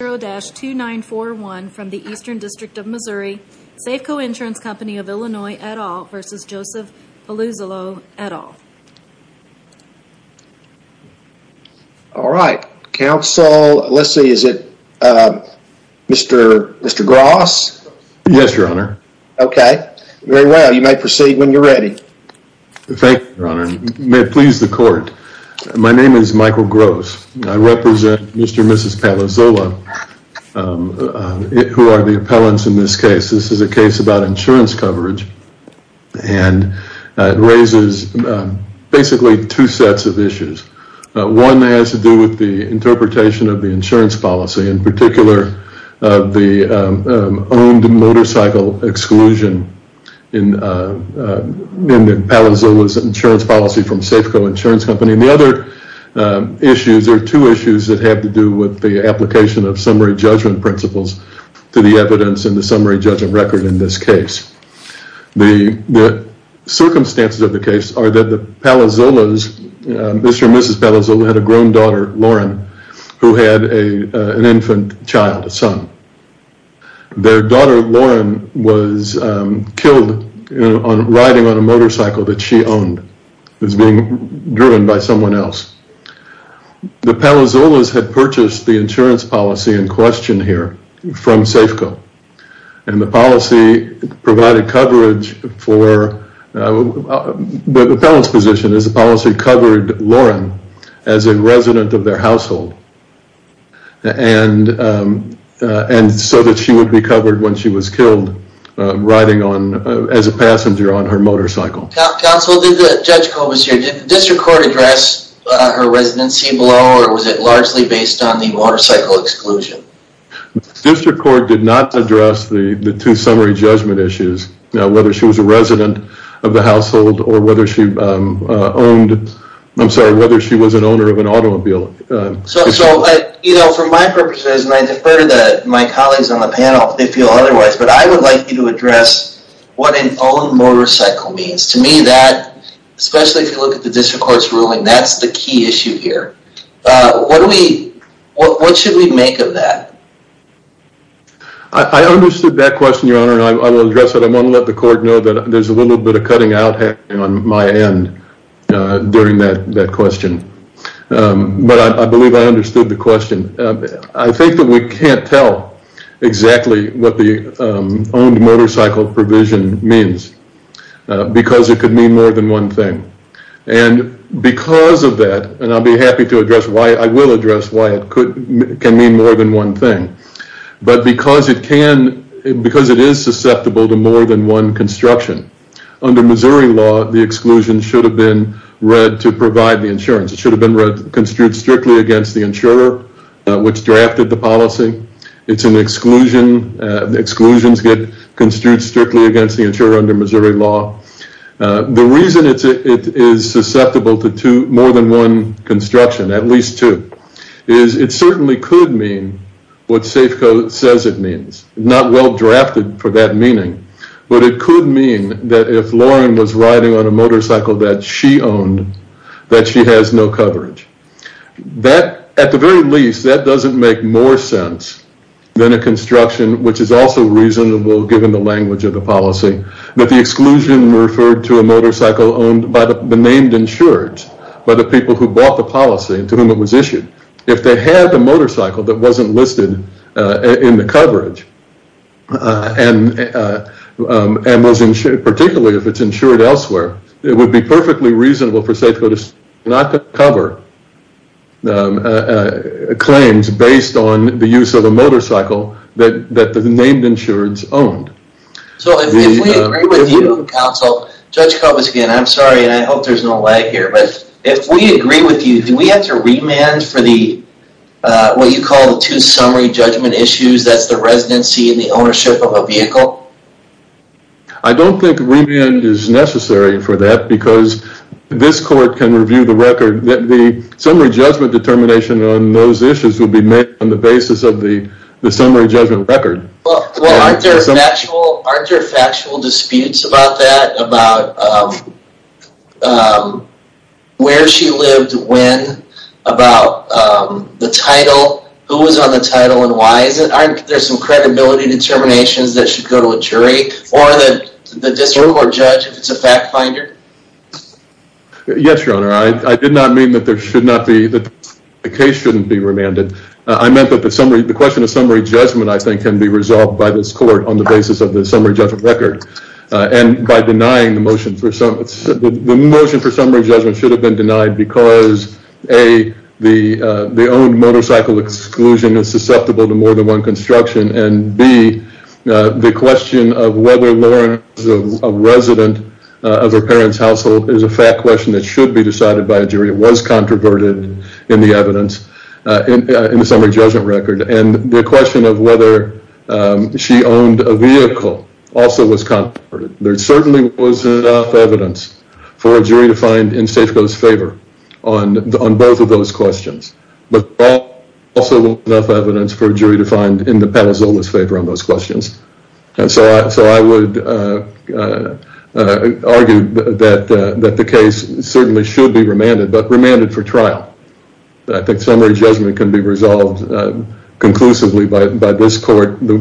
All right, counsel, let's see, is it Mr. Gross? Yes, your honor. Okay, very well, you may proceed when you're ready. Thank you, your honor. May it please the court, my name is Joseph Palazzolo, who are the appellants in this case. This is a case about insurance coverage and it raises basically two sets of issues. One has to do with the interpretation of the insurance policy, in particular the owned motorcycle exclusion in Palazzolo's insurance policy from Safeco Insurance Company. The other issues are two issues that have to do with the application of summary judgment principles to the evidence in the summary judgment record in this case. The circumstances of the case are that the Palazzolo's, Mr. and Mrs. Palazzolo had a grown daughter, Lauren, who had an infant child, a son. Their daughter, Lauren, was killed riding on a motorcycle that she owned. It was being driven by someone else. The Palazzolo's had purchased the insurance policy in question here from Safeco and the policy provided coverage for, the appellant's position is the policy covered Lauren as a resident of their household and so that she would be covered when she was killed riding on as a passenger on her motorcycle. Counsel, Judge Kobus here, did the district court address her residency below or was it largely based on the motorcycle exclusion? District Court did not address the two summary judgment issues. Now whether she was a resident of the household or whether she owned, I'm sorry, whether she was an owner of an automobile. So you know for my purposes and I defer to my colleagues on the panel if they feel otherwise, but I would like you to address what an own motorcycle means. To me that, especially if you look at the district court's ruling, that's the key issue here. What do we, what should we make of that? I understood that question, your honor, and I will address it. I want to let the court know that there's a little bit of cutting out happening on my end during that question, but I believe I understood the question. I think that we should address what exclusion means because it could mean more than one thing. And because of that, and I'll be happy to address why I will address why it could mean more than one thing. But because it can, because it is susceptible to more than one construction, under Missouri law the exclusion should have been read to provide the insurance. It should have been read, construed strictly against the insurer which drafted the policy. It's an exclusion, the insurer under Missouri law. The reason it is susceptible to more than one construction, at least two, is it certainly could mean what Safeco says it means. Not well drafted for that meaning, but it could mean that if Lauren was riding on a motorcycle that she owned, that she has no coverage. That, at the very least, that doesn't make more sense than a construction which is also reasonable given the language of the policy. That the exclusion referred to a motorcycle owned by the named insureds, by the people who bought the policy to whom it was issued. If they had the motorcycle that wasn't listed in the coverage and was insured, particularly if it's insured elsewhere, it would be perfectly reasonable for Safeco to not cover claims based on the use of a vehicle that the insureds owned. So if we agree with you counsel, Judge Kovacs again, I'm sorry and I hope there's no lag here, but if we agree with you, do we have to remand for the, what you call the two summary judgment issues, that's the residency and the ownership of a vehicle. I don't think remand is necessary for that because this court can review the record. The summary judgment determination on those issues will be made on the basis of the summary judgment record. Well, aren't there factual disputes about that? About where she lived, when, about the title, who was on the title and why? Aren't there some credibility determinations that should go to a jury or the district court judge if it's a fact finder? Yes, your honor. I did not mean that the case shouldn't be remanded. I meant that the question of summary judgment, I think, can be resolved by this court on the basis of the summary judgment record. And by denying the motion for summary judgment should have been denied because A, the owned motorcycle exclusion is susceptible to more than one construction, and B, the question of whether Lauren was a resident of her parents' household. There's a fact question that should be decided by a jury. It was controverted in the evidence, in the summary judgment record. And the question of whether she owned a vehicle also was controverted. There certainly was enough evidence for a jury to find in Safeco's favor on both of those questions. And so I would argue that the case certainly should be remanded, but remanded for trial. I think summary judgment can be resolved conclusively by this court. The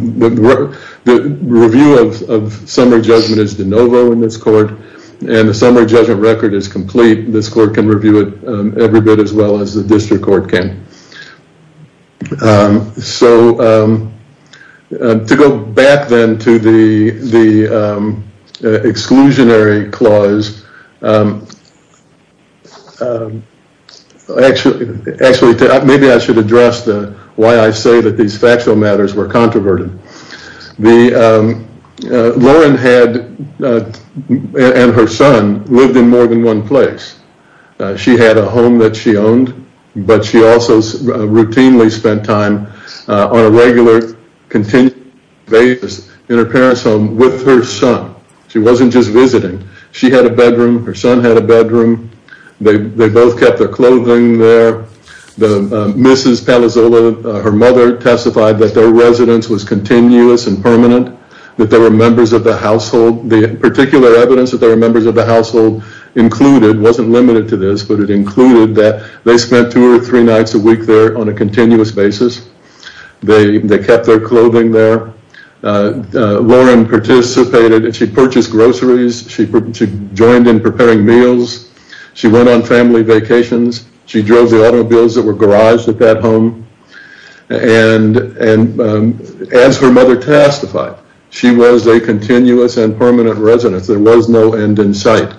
review of summary judgment is de novo in this court, and the summary judgment record is complete. This court can review it every bit as well as the district court judge. So to go back then to the exclusionary clause, maybe I should address why I say that these factual matters were controverted. Lauren and her son lived in more than one place. She had a home that she owned, but she also routinely spent time on a regular, continuous basis in her parents' home with her son. She wasn't just visiting. She had a bedroom. Her son had a bedroom. They both kept their clothing there. Mrs. Palazzolo, her mother, testified that their residence was continuous and permanent, that there were members of the household. The particular evidence that there were members of the household included wasn't limited to this, but it included that they spent two or three nights a week there on a continuous basis. They kept their clothing there. Lauren participated. She purchased groceries. She joined in preparing meals. She went on family vacations. She drove the automobiles that were garaged at that home, and as her mother testified, she was a continuous and permanent resident. There was no end in sight.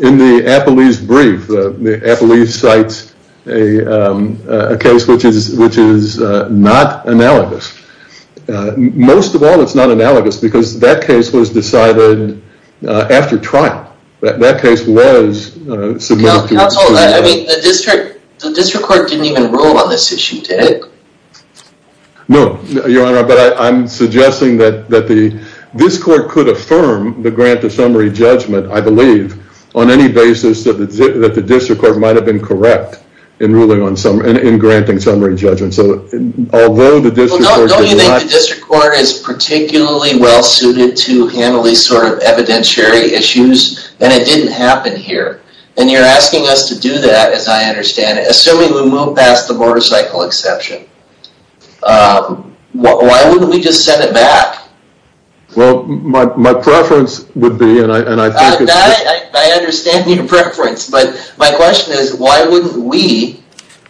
In the Apolli's brief, Apolli cites a case which is not analogous. Most of all, it's not analogous because that case was decided after trial. That case was submitted to the district court. The district court didn't even rule on this issue, did it? No, Your Honor, but I'm suggesting that this court could affirm the grant of summary judgment, I believe, on any basis that the district court might have been correct in granting summary judgment. Don't you think the district court is particularly well-suited to handle these sort of evidentiary issues, and it didn't happen here? And you're asking us to do that, as I understand it, assuming we move past the motorcycle exception. Why wouldn't we just send it back? Well, my preference would be, and I think it's... I understand your preference, but my question is, why wouldn't we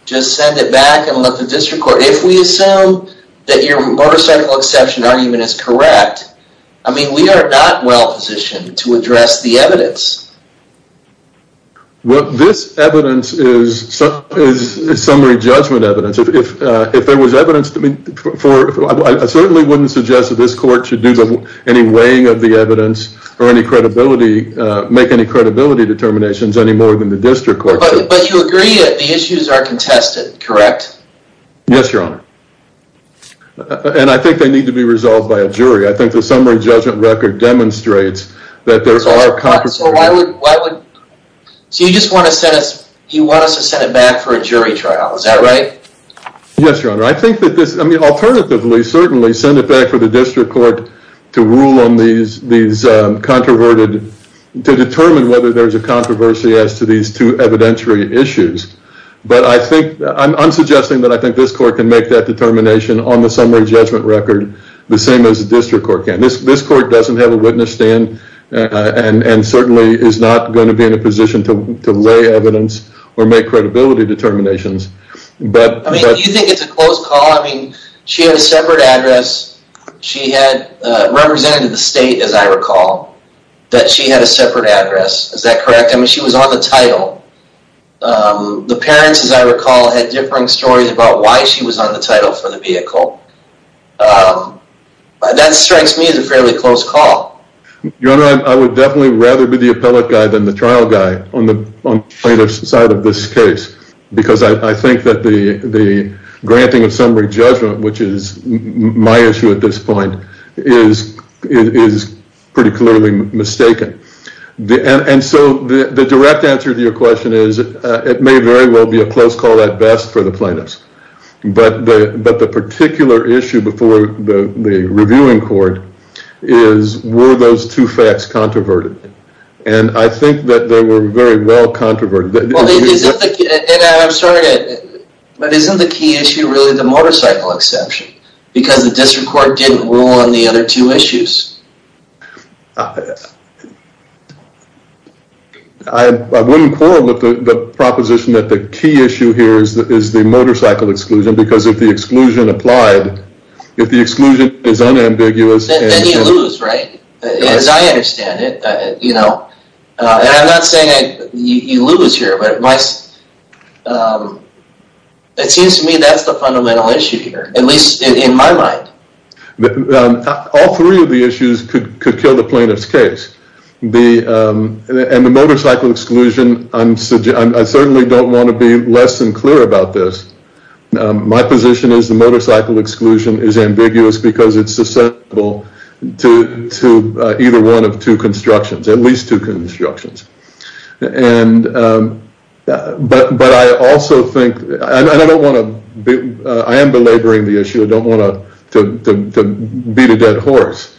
just send it back and let the district court, if we assume that your motorcycle exception argument is correct, I mean, we are not well-positioned to address the evidence. Well, this evidence is summary judgment evidence. If there was evidence... I certainly wouldn't suggest that this court should do any weighing of the evidence or make any credibility determinations any more than the district court should. But you agree that the issues are contested, correct? Yes, Your Honor, and I think they need to be resolved by a jury. I think the summary judgment record demonstrates that there are... So you just want us to send it back for a jury trial, is that right? Yes, Your Honor. I think that this... I mean, alternatively, certainly, send it back for the district court to rule on these controverted... to determine whether there's a controversy as to these two evidentiary issues. But I think... I'm suggesting that I think this court can make that determination on the summary judgment record the same as the district court can. This court doesn't have a witness stand and certainly is not going to be in a position to lay evidence or make credibility determinations. I mean, do you think it's a close call? I mean, she had a separate address. She had represented the state, as I recall, that she had a separate address. Is that correct? I mean, she was on the title. The parents, as I recall, had differing stories about why she was on the title for the vehicle. That strikes me as a fairly close call. Your Honor, I would definitely rather be the appellate guy than the trial guy on the plaintiff's side of this case because I think that the granting of summary judgment, which is my issue at this point, is pretty clearly mistaken. And so the direct answer to your question is it may very well be a close call at best for the plaintiffs. But the particular issue before the reviewing court is were those two facts controverted? And I think that they were very well controverted. But isn't the key issue really the motorcycle exception? Because the district court didn't rule on the other two issues. I wouldn't call the proposition that the key issue here is the motorcycle exclusion because if the exclusion applied, if the exclusion is unambiguous. Then you lose, right? As I understand it. And I'm not saying you lose here, but it seems to me that's the fundamental issue here, at least in my mind. All three of the issues could kill the plaintiff's case. And the motorcycle exclusion, I certainly don't want to be less than clear about this. My position is the motorcycle exclusion is ambiguous because it's susceptible to either one of two constructions, at least two constructions. But I also think, and I don't want to, I am belaboring the issue. I don't want to beat a dead horse.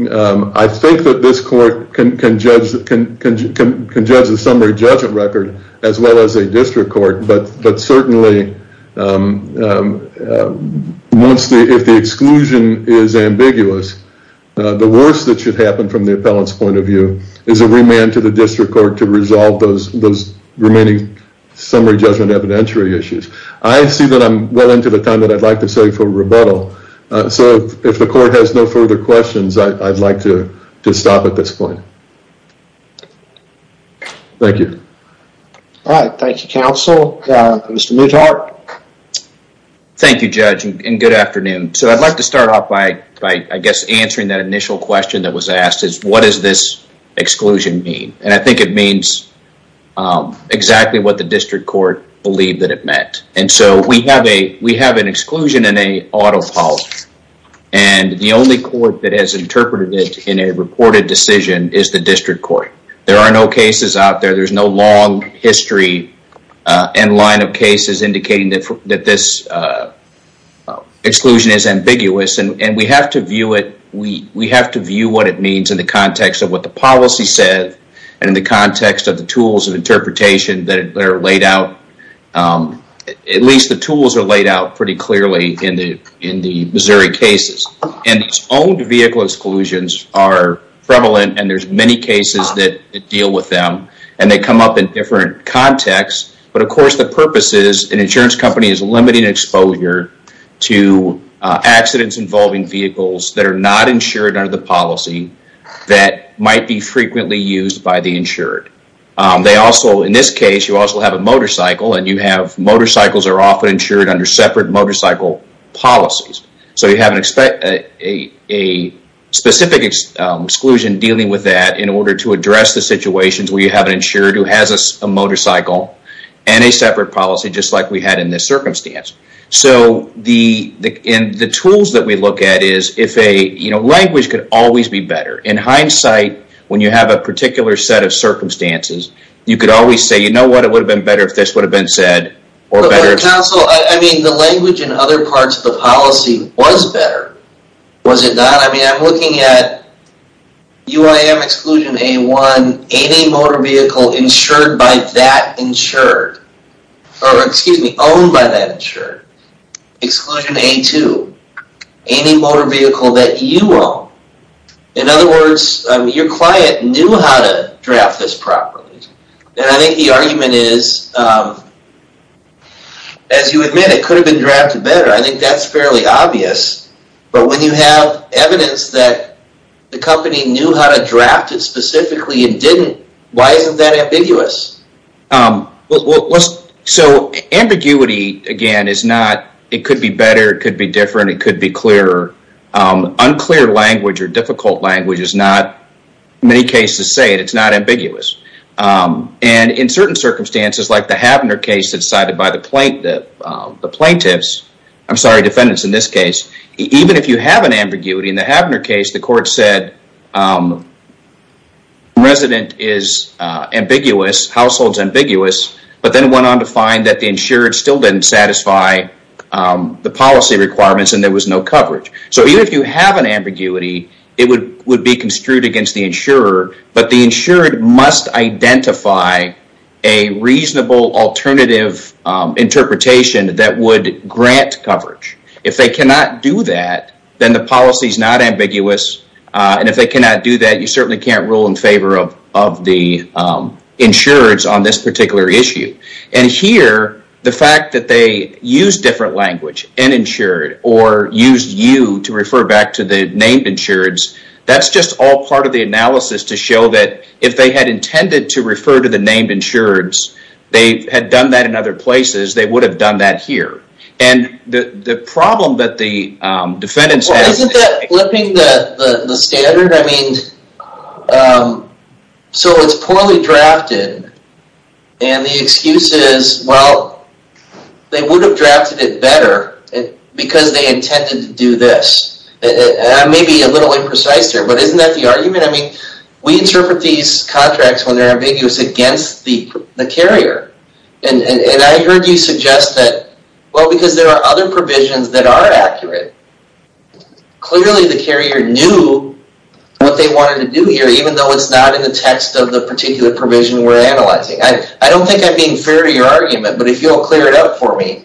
I think that this court can judge the summary judgment record as well as a district court. But certainly, if the exclusion is ambiguous, the worst that should happen from the appellant's point of view is a remand to the district court to resolve those remaining summary judgment evidentiary issues. I see that I'm well into the time that I'd like to save for rebuttal. So if the court has no further questions, I'd like to stop at this point. Thank you. All right. Thank you, counsel. Mr. Newhart. Thank you, Judge, and good afternoon. So I'd like to start off by, I guess, answering that initial question that was asked is, what does this exclusion mean? And I think it means exactly what the district court believed that it meant. And so we have an exclusion in a auto policy. And the only court that has interpreted it in a reported decision is the district court. There are no cases out there. There's no long history and line of cases indicating that this exclusion is ambiguous. And we have to view what it means in the context of what the policy said and in the context of the tools of interpretation that are laid out. At least the tools are laid out pretty clearly in the Missouri cases. And these owned vehicle exclusions are prevalent, and there's many cases that deal with them. And they come up in different contexts. But, of course, the purpose is an insurance company is limiting exposure to accidents involving vehicles that are not insured under the policy that might be frequently used by the insured. In this case, you also have a motorcycle, and motorcycles are often insured under separate motorcycle policies. So you have a specific exclusion dealing with that in order to address the situations where you have an insured who has a motorcycle and a separate policy, just like we had in this circumstance. So the tools that we look at is if a language could always be better. In hindsight, when you have a particular set of circumstances, you could always say, you know what, it would have been better if this would have been said. I mean, the language and other parts of the policy was better. Was it not? I mean, I'm looking at UIM exclusion A1, any motor vehicle insured by that insured, or excuse me, owned by that insured. Exclusion A2, any motor vehicle that you own. In other words, your client knew how to draft this properly. And I think the argument is, as you admit, it could have been drafted better. I think that's fairly obvious. But when you have evidence that the company knew how to draft it specifically and didn't, why isn't that ambiguous? So ambiguity, again, is not, it could be better, it could be different, it could be clearer. Unclear language or difficult language is not, many cases say it, it's not ambiguous. And in certain circumstances, like the Havner case that's cited by the plaintiffs, I'm sorry, defendants in this case, even if you have an ambiguity in the Havner case, the court said the resident is ambiguous. Household's ambiguous, but then went on to find that the insured still didn't satisfy the policy requirements and there was no coverage. So even if you have an ambiguity, it would be construed against the insurer, but the insured must identify a reasonable alternative interpretation that would grant coverage. If they cannot do that, then the policy's not ambiguous. And if they cannot do that, you certainly can't rule in favor of the insureds on this particular issue. And here, the fact that they used different language, uninsured, or used you to refer back to the named insureds, that's just all part of the analysis to show that if they had intended to refer to the named insureds, they had done that in other places, they would have done that here. And the problem that the defendants have... Well, they would have drafted it better because they intended to do this. And I may be a little imprecise here, but isn't that the argument? I mean, we interpret these contracts when they're ambiguous against the carrier. And I heard you suggest that, well, because there are other provisions that are accurate. Clearly, the carrier knew what they wanted to do here, even though it's not in the text of the particular provision we're analyzing. I don't think I'm being fair to your argument, but if you'll clear it up for me.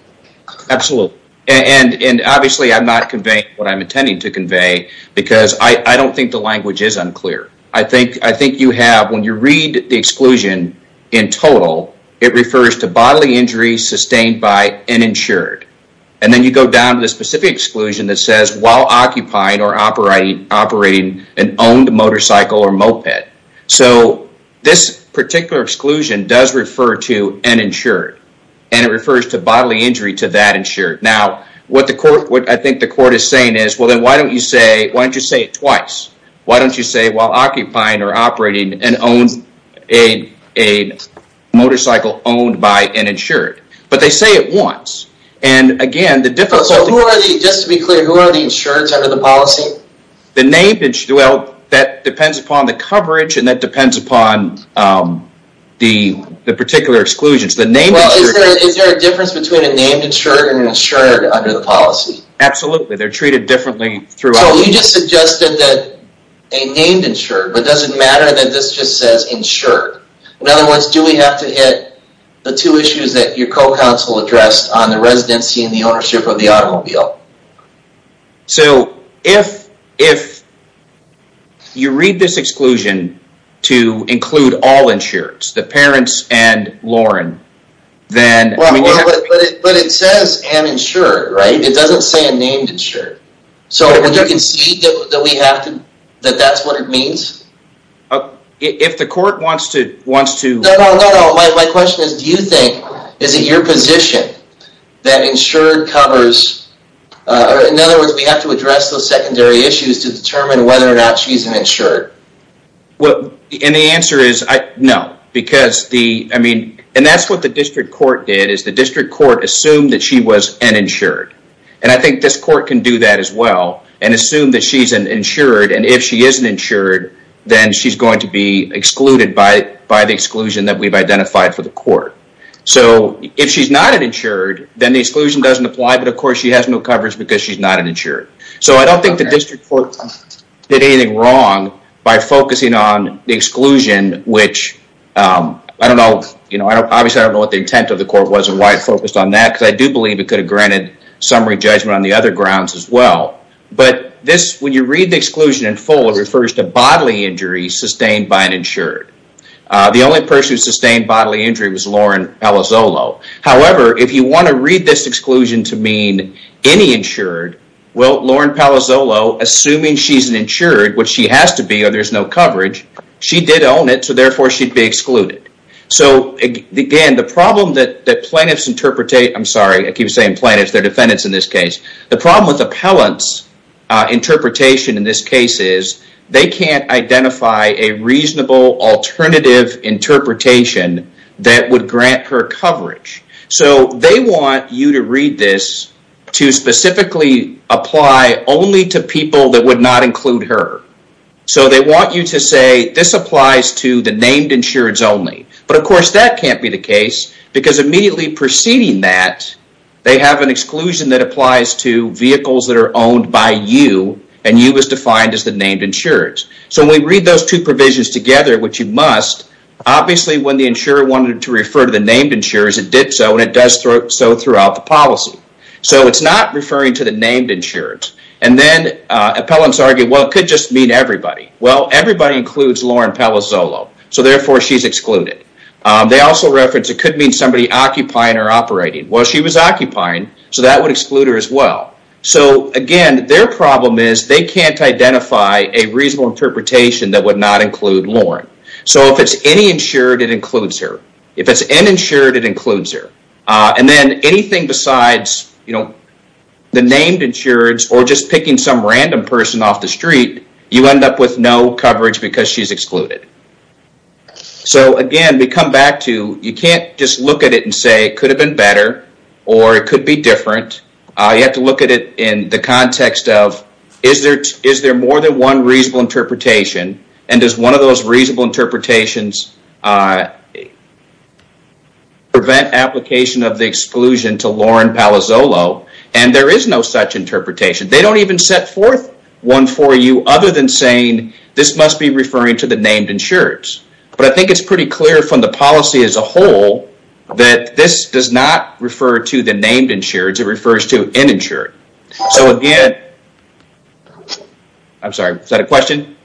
Absolutely. And obviously, I'm not conveying what I'm intending to convey because I don't think the language is unclear. I think you have, when you read the exclusion in total, it refers to bodily injuries sustained by an insured. And then you go down to the specific exclusion that says while occupying or operating an owned motorcycle or moped. So this particular exclusion does refer to an insured, and it refers to bodily injury to that insured. Now, what I think the court is saying is, well, then why don't you say it twice? Why don't you say while occupying or operating a motorcycle owned by an insured? But they say it once. And again, the difficulty... Just to be clear, who are the insureds under the policy? Well, that depends upon the coverage, and that depends upon the particular exclusions. Well, is there a difference between a named insured and an insured under the policy? Absolutely. They're treated differently throughout. So you just suggested that a named insured, but does it matter that this just says insured? In other words, do we have to hit the two issues that your co-counsel addressed on the residency and the ownership of the automobile? So if you read this exclusion to include all insureds, the parents and Lauren, then... But it says an insured, right? It doesn't say a named insured. So would you concede that that's what it means? If the court wants to... No, no, no. My question is, do you think, is it your position that insured covers... In other words, we have to address those secondary issues to determine whether or not she's an insured? And the answer is no. And that's what the district court did, is the district court assumed that she was an insured. And I think this court can do that as well, and assume that she's an insured, and if she is an insured, then she's going to be excluded by the exclusion that we've identified for the court. So if she's not an insured, then the exclusion doesn't apply, but of course she has no coverage because she's not an insured. So I don't think the district court did anything wrong by focusing on the exclusion, which I don't know... Obviously, I don't know what the intent of the court was and why it focused on that, because I do believe it could have granted summary judgment on the other grounds as well. But when you read the exclusion in full, it refers to bodily injuries sustained by an insured. The only person who sustained bodily injury was Lauren Palazzolo. However, if you want to read this exclusion to mean any insured, well, Lauren Palazzolo, assuming she's an insured, which she has to be or there's no coverage, she did own it, so therefore she'd be excluded. So again, the problem that plaintiffs interpret... I'm sorry, I keep saying plaintiffs, they're defendants in this case. The problem with appellants' interpretation in this case is they can't identify a reasonable alternative interpretation that would grant her coverage. So they want you to read this to specifically apply only to people that would not include her. So they want you to say, this applies to the named insureds only. But of course, that can't be the case, because immediately preceding that, they have an exclusion that applies to vehicles that are owned by you, and you was defined as the named insureds. So when we read those two provisions together, which you must, obviously when the insurer wanted to refer to the named insurers, it did so, and it does so throughout the policy. So it's not referring to the named insureds. And then appellants argue, well, it could just mean everybody. Well, everybody includes Lauren Palazzolo, so therefore she's excluded. They also reference it could mean somebody occupying or operating. Well, she was occupying, so that would exclude her as well. So again, their problem is they can't identify a reasonable interpretation that would not include Lauren. So if it's any insured, it includes her. If it's an insured, it includes her. And then anything besides the named insureds or just picking some random person off the street, you end up with no coverage because she's excluded. So again, we come back to you can't just look at it and say it could have been better or it could be different. You have to look at it in the context of is there more than one reasonable interpretation, and does one of those reasonable interpretations prevent application of the exclusion to Lauren Palazzolo? And there is no such interpretation. They don't even set forth one for you other than saying this must be referring to the named insureds. But I think it's pretty clear from the policy as a whole that this does not refer to the named insureds. It refers to an insured. So again, I'm sorry. Is that a question?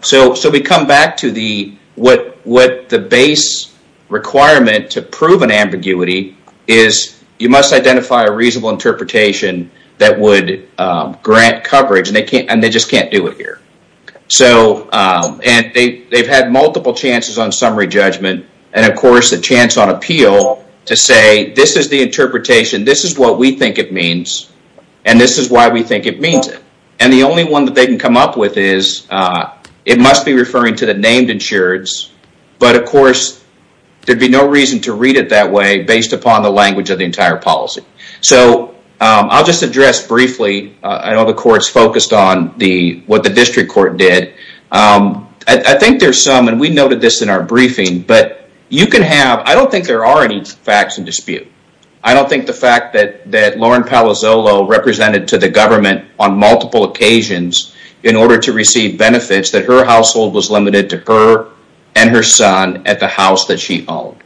So we come back to what the base requirement to prove an ambiguity is you must identify a reasonable interpretation that would grant coverage, and they just can't do it here. And they've had multiple chances on summary judgment and, of course, a chance on appeal to say this is the interpretation. This is what we think it means, and this is why we think it means it. And the only one that they can come up with is it must be referring to the named insureds, but, of course, there'd be no reason to read it that way based upon the language of the entire policy. So I'll just address briefly. I know the court's focused on what the district court did. I think there's some, and we noted this in our briefing, but you can have, I don't think there are any facts in dispute. I don't think the fact that Lauren Palazzolo represented to the government on multiple occasions in order to receive benefits, that her household was limited to her and her son at the house that she owned.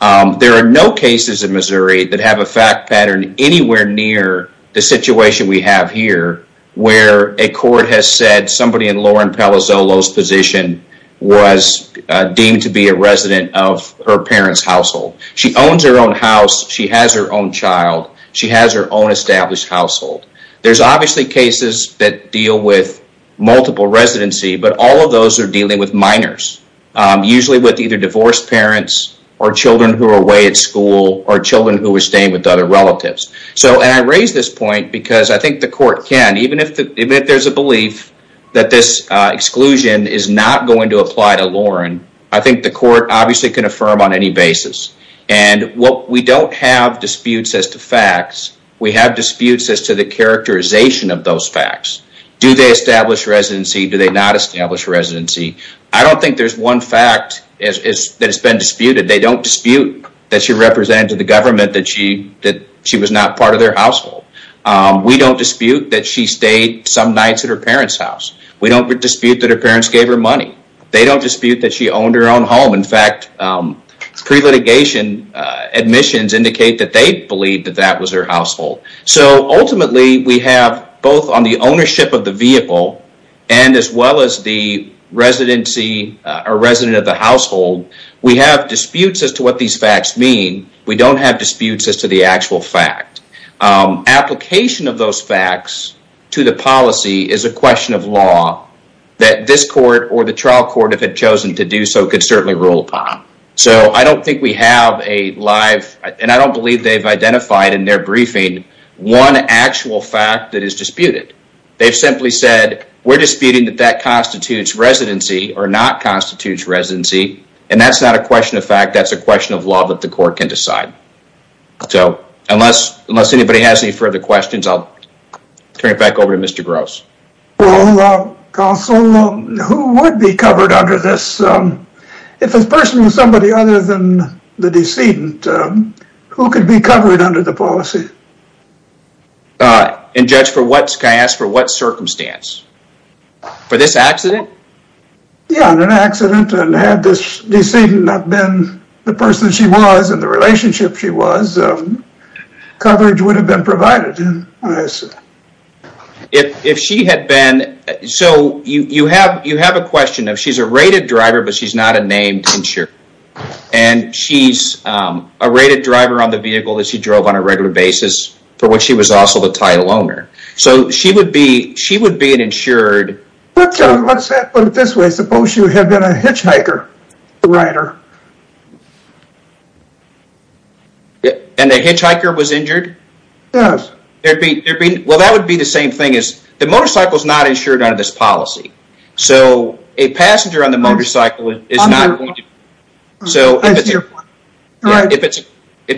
There are no cases in Missouri that have a fact pattern anywhere near the situation we have here where a court has said somebody in Lauren Palazzolo's position was deemed to be a resident of her parents' household. She owns her own house. She has her own child. She has her own established household. There's obviously cases that deal with multiple residency, but all of those are dealing with minors, usually with either divorced parents or children who are away at school or children who are staying with other relatives. And I raise this point because I think the court can. Even if there's a belief that this exclusion is not going to apply to Lauren, I think the court obviously can affirm on any basis. And we don't have disputes as to facts. We have disputes as to the characterization of those facts. Do they establish residency? Do they not establish residency? I don't think there's one fact that has been disputed. They don't dispute that she represented to the government that she was not part of their household. We don't dispute that she stayed some nights at her parents' house. We don't dispute that her parents gave her money. They don't dispute that she owned her own home. In fact, pre-litigation admissions indicate that they believe that that was her household. So ultimately, we have both on the ownership of the vehicle and as well as the residency or resident of the household, we have disputes as to what these facts mean. We don't have disputes as to the actual fact. Application of those facts to the policy is a question of law that this court or the trial court, if it chosen to do so, could certainly rule upon. So I don't think we have a live, and I don't believe they've identified in their briefing, one actual fact that is disputed. They've simply said, we're disputing that that constitutes residency or not constitutes residency. And that's not a question of fact, that's a question of law that the court can decide. So unless anybody has any further questions, I'll turn it back over to Mr. Gross. Well, counsel, who would be covered under this? If this person was somebody other than the decedent, who could be covered under the policy? And judge, can I ask for what circumstance? For this accident? Yeah, in an accident and had this decedent not been the person she was and the relationship she was, coverage would have been provided. If she had been, so you have a question of she's a rated driver, but she's not a named insurer. And she's a rated driver on the vehicle that she drove on a regular basis, for which she was also the title owner. So she would be an insured. Let's put it this way, suppose you had been a hitchhiker, a rider. And the hitchhiker was injured? Yes. Well, that would be the same thing as the motorcycle is not insured under this policy. So a passenger on the motorcycle is not. If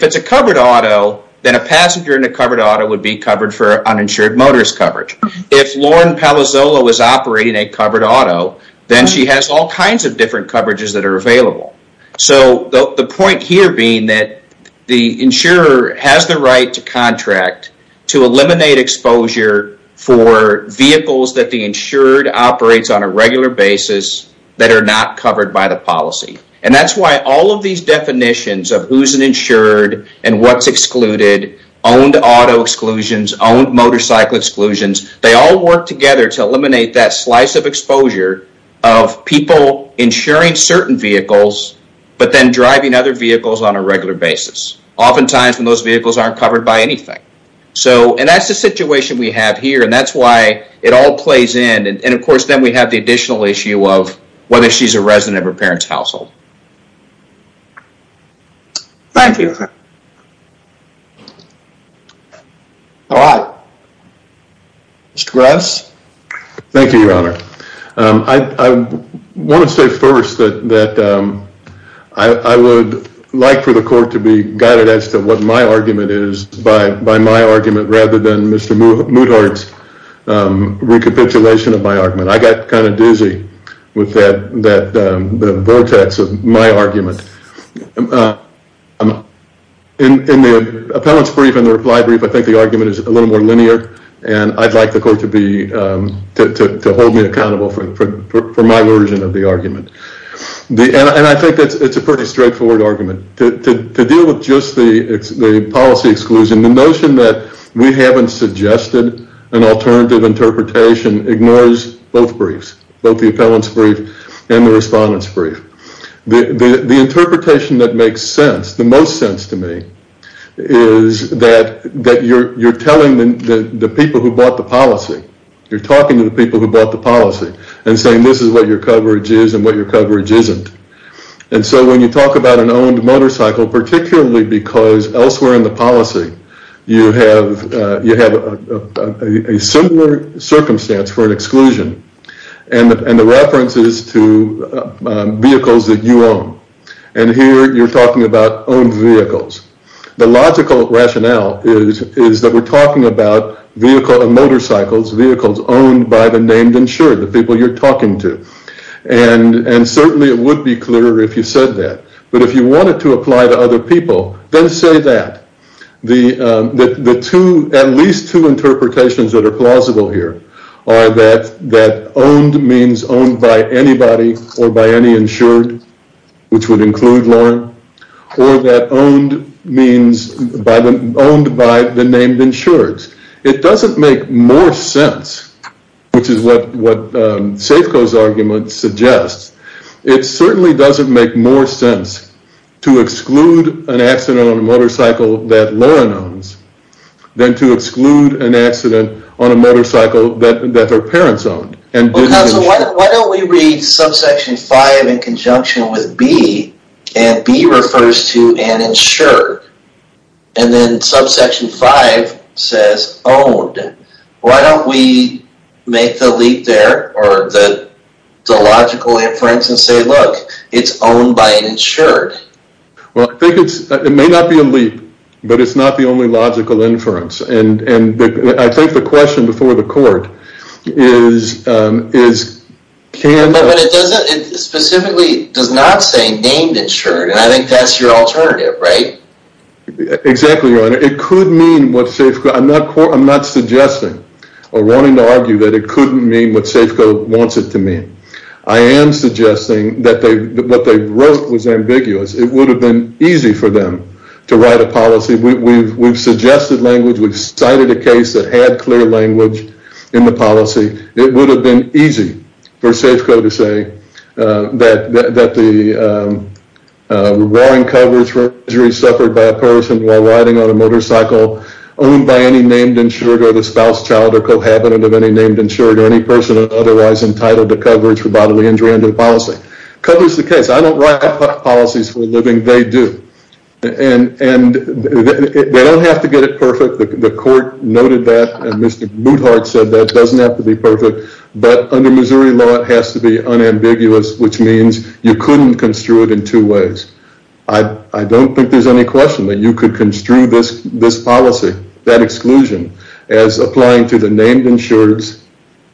it's a covered auto, then a passenger in a covered auto would be covered for uninsured motorist coverage. If Lauren Palazzolo was operating a covered auto, then she has all kinds of different coverages that are available. So the point here being that the insurer has the right to contract to eliminate exposure for vehicles that the insured operates on a regular basis that are not covered by the policy. And that's why all of these definitions of who's an insured and what's excluded, owned auto exclusions, owned motorcycle exclusions, they all work together to eliminate that slice of exposure of people insuring certain vehicles, but then driving other vehicles on a regular basis. Oftentimes when those vehicles aren't covered by anything. And that's the situation we have here. And that's why it all plays in. And of course, then we have the additional issue of whether she's a resident of her parents' household. Thank you. All right. Mr. Graves? Thank you, Your Honor. I want to say first that I would like for the court to be guided as to what my argument is by my argument rather than Mr. Muthardt's recapitulation of my argument. In the appellant's brief and the reply brief, I think the argument is a little more linear. And I'd like the court to hold me accountable for my version of the argument. And I think it's a pretty straightforward argument. To deal with just the policy exclusion, the notion that we haven't suggested an alternative interpretation ignores both briefs, both the appellant's brief and the respondent's brief. The interpretation that makes sense, the most sense to me, is that you're telling the people who bought the policy. You're talking to the people who bought the policy and saying this is what your coverage is and what your coverage isn't. And so when you talk about an owned motorcycle, particularly because elsewhere in the policy, you have a similar circumstance for an exclusion. And the reference is to vehicles that you own. And here you're talking about owned vehicles. The logical rationale is that we're talking about motorcycles, vehicles owned by the named insured, the people you're talking to. And certainly it would be clearer if you said that. But if you wanted to apply to other people, then say that. At least two interpretations that are plausible here are that owned means owned by anybody or by any insured, which would include Lauren, or that owned means owned by the named insured. It doesn't make more sense, which is what Safeco's argument suggests. It certainly doesn't make more sense to exclude an accident on a motorcycle that Lauren owns than to exclude an accident on a motorcycle that her parents owned. Why don't we read subsection 5 in conjunction with B? And B refers to an insured. And then subsection 5 says owned. Why don't we make the leap there or the logical inference and say, look, it's owned by an insured. Well, I think it may not be a leap, but it's not the only logical inference. And I think the question before the court is can— But it specifically does not say named insured. And I think that's your alternative, right? Exactly, Your Honor. It could mean what Safeco—I'm not suggesting or wanting to argue that it couldn't mean what Safeco wants it to mean. I am suggesting that what they wrote was ambiguous. It would have been easy for them to write a policy. We've suggested language. We've cited a case that had clear language in the policy. It would have been easy for Safeco to say that the warrant coverage for injuries suffered by a person while riding on a motorcycle owned by any named insured or the spouse, child, or cohabitant of any named insured or any person otherwise entitled to coverage for bodily injury under the policy. Covers the case. I don't write policies for a living. They do. And they don't have to get it perfect. The court noted that. Mr. Moothart said that doesn't have to be perfect. But under Missouri law, it has to be unambiguous, which means you couldn't construe it in two ways. I don't think there's any question that you could construe this policy, that exclusion, as applying to the named insureds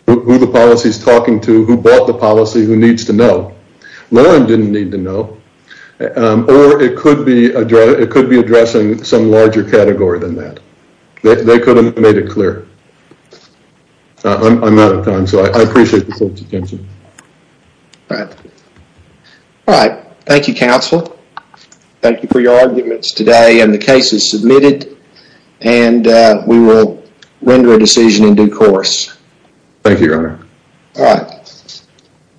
who the policy is talking to, who bought the policy, who needs to know. Lauren didn't need to know. Or it could be addressing some larger category than that. They could have made it clear. I'm out of time, so I appreciate the court's attention. All right. Thank you, counsel. Thank you for your arguments today. And the case is submitted. And we will render a decision in due course. Thank you, your honor. All right.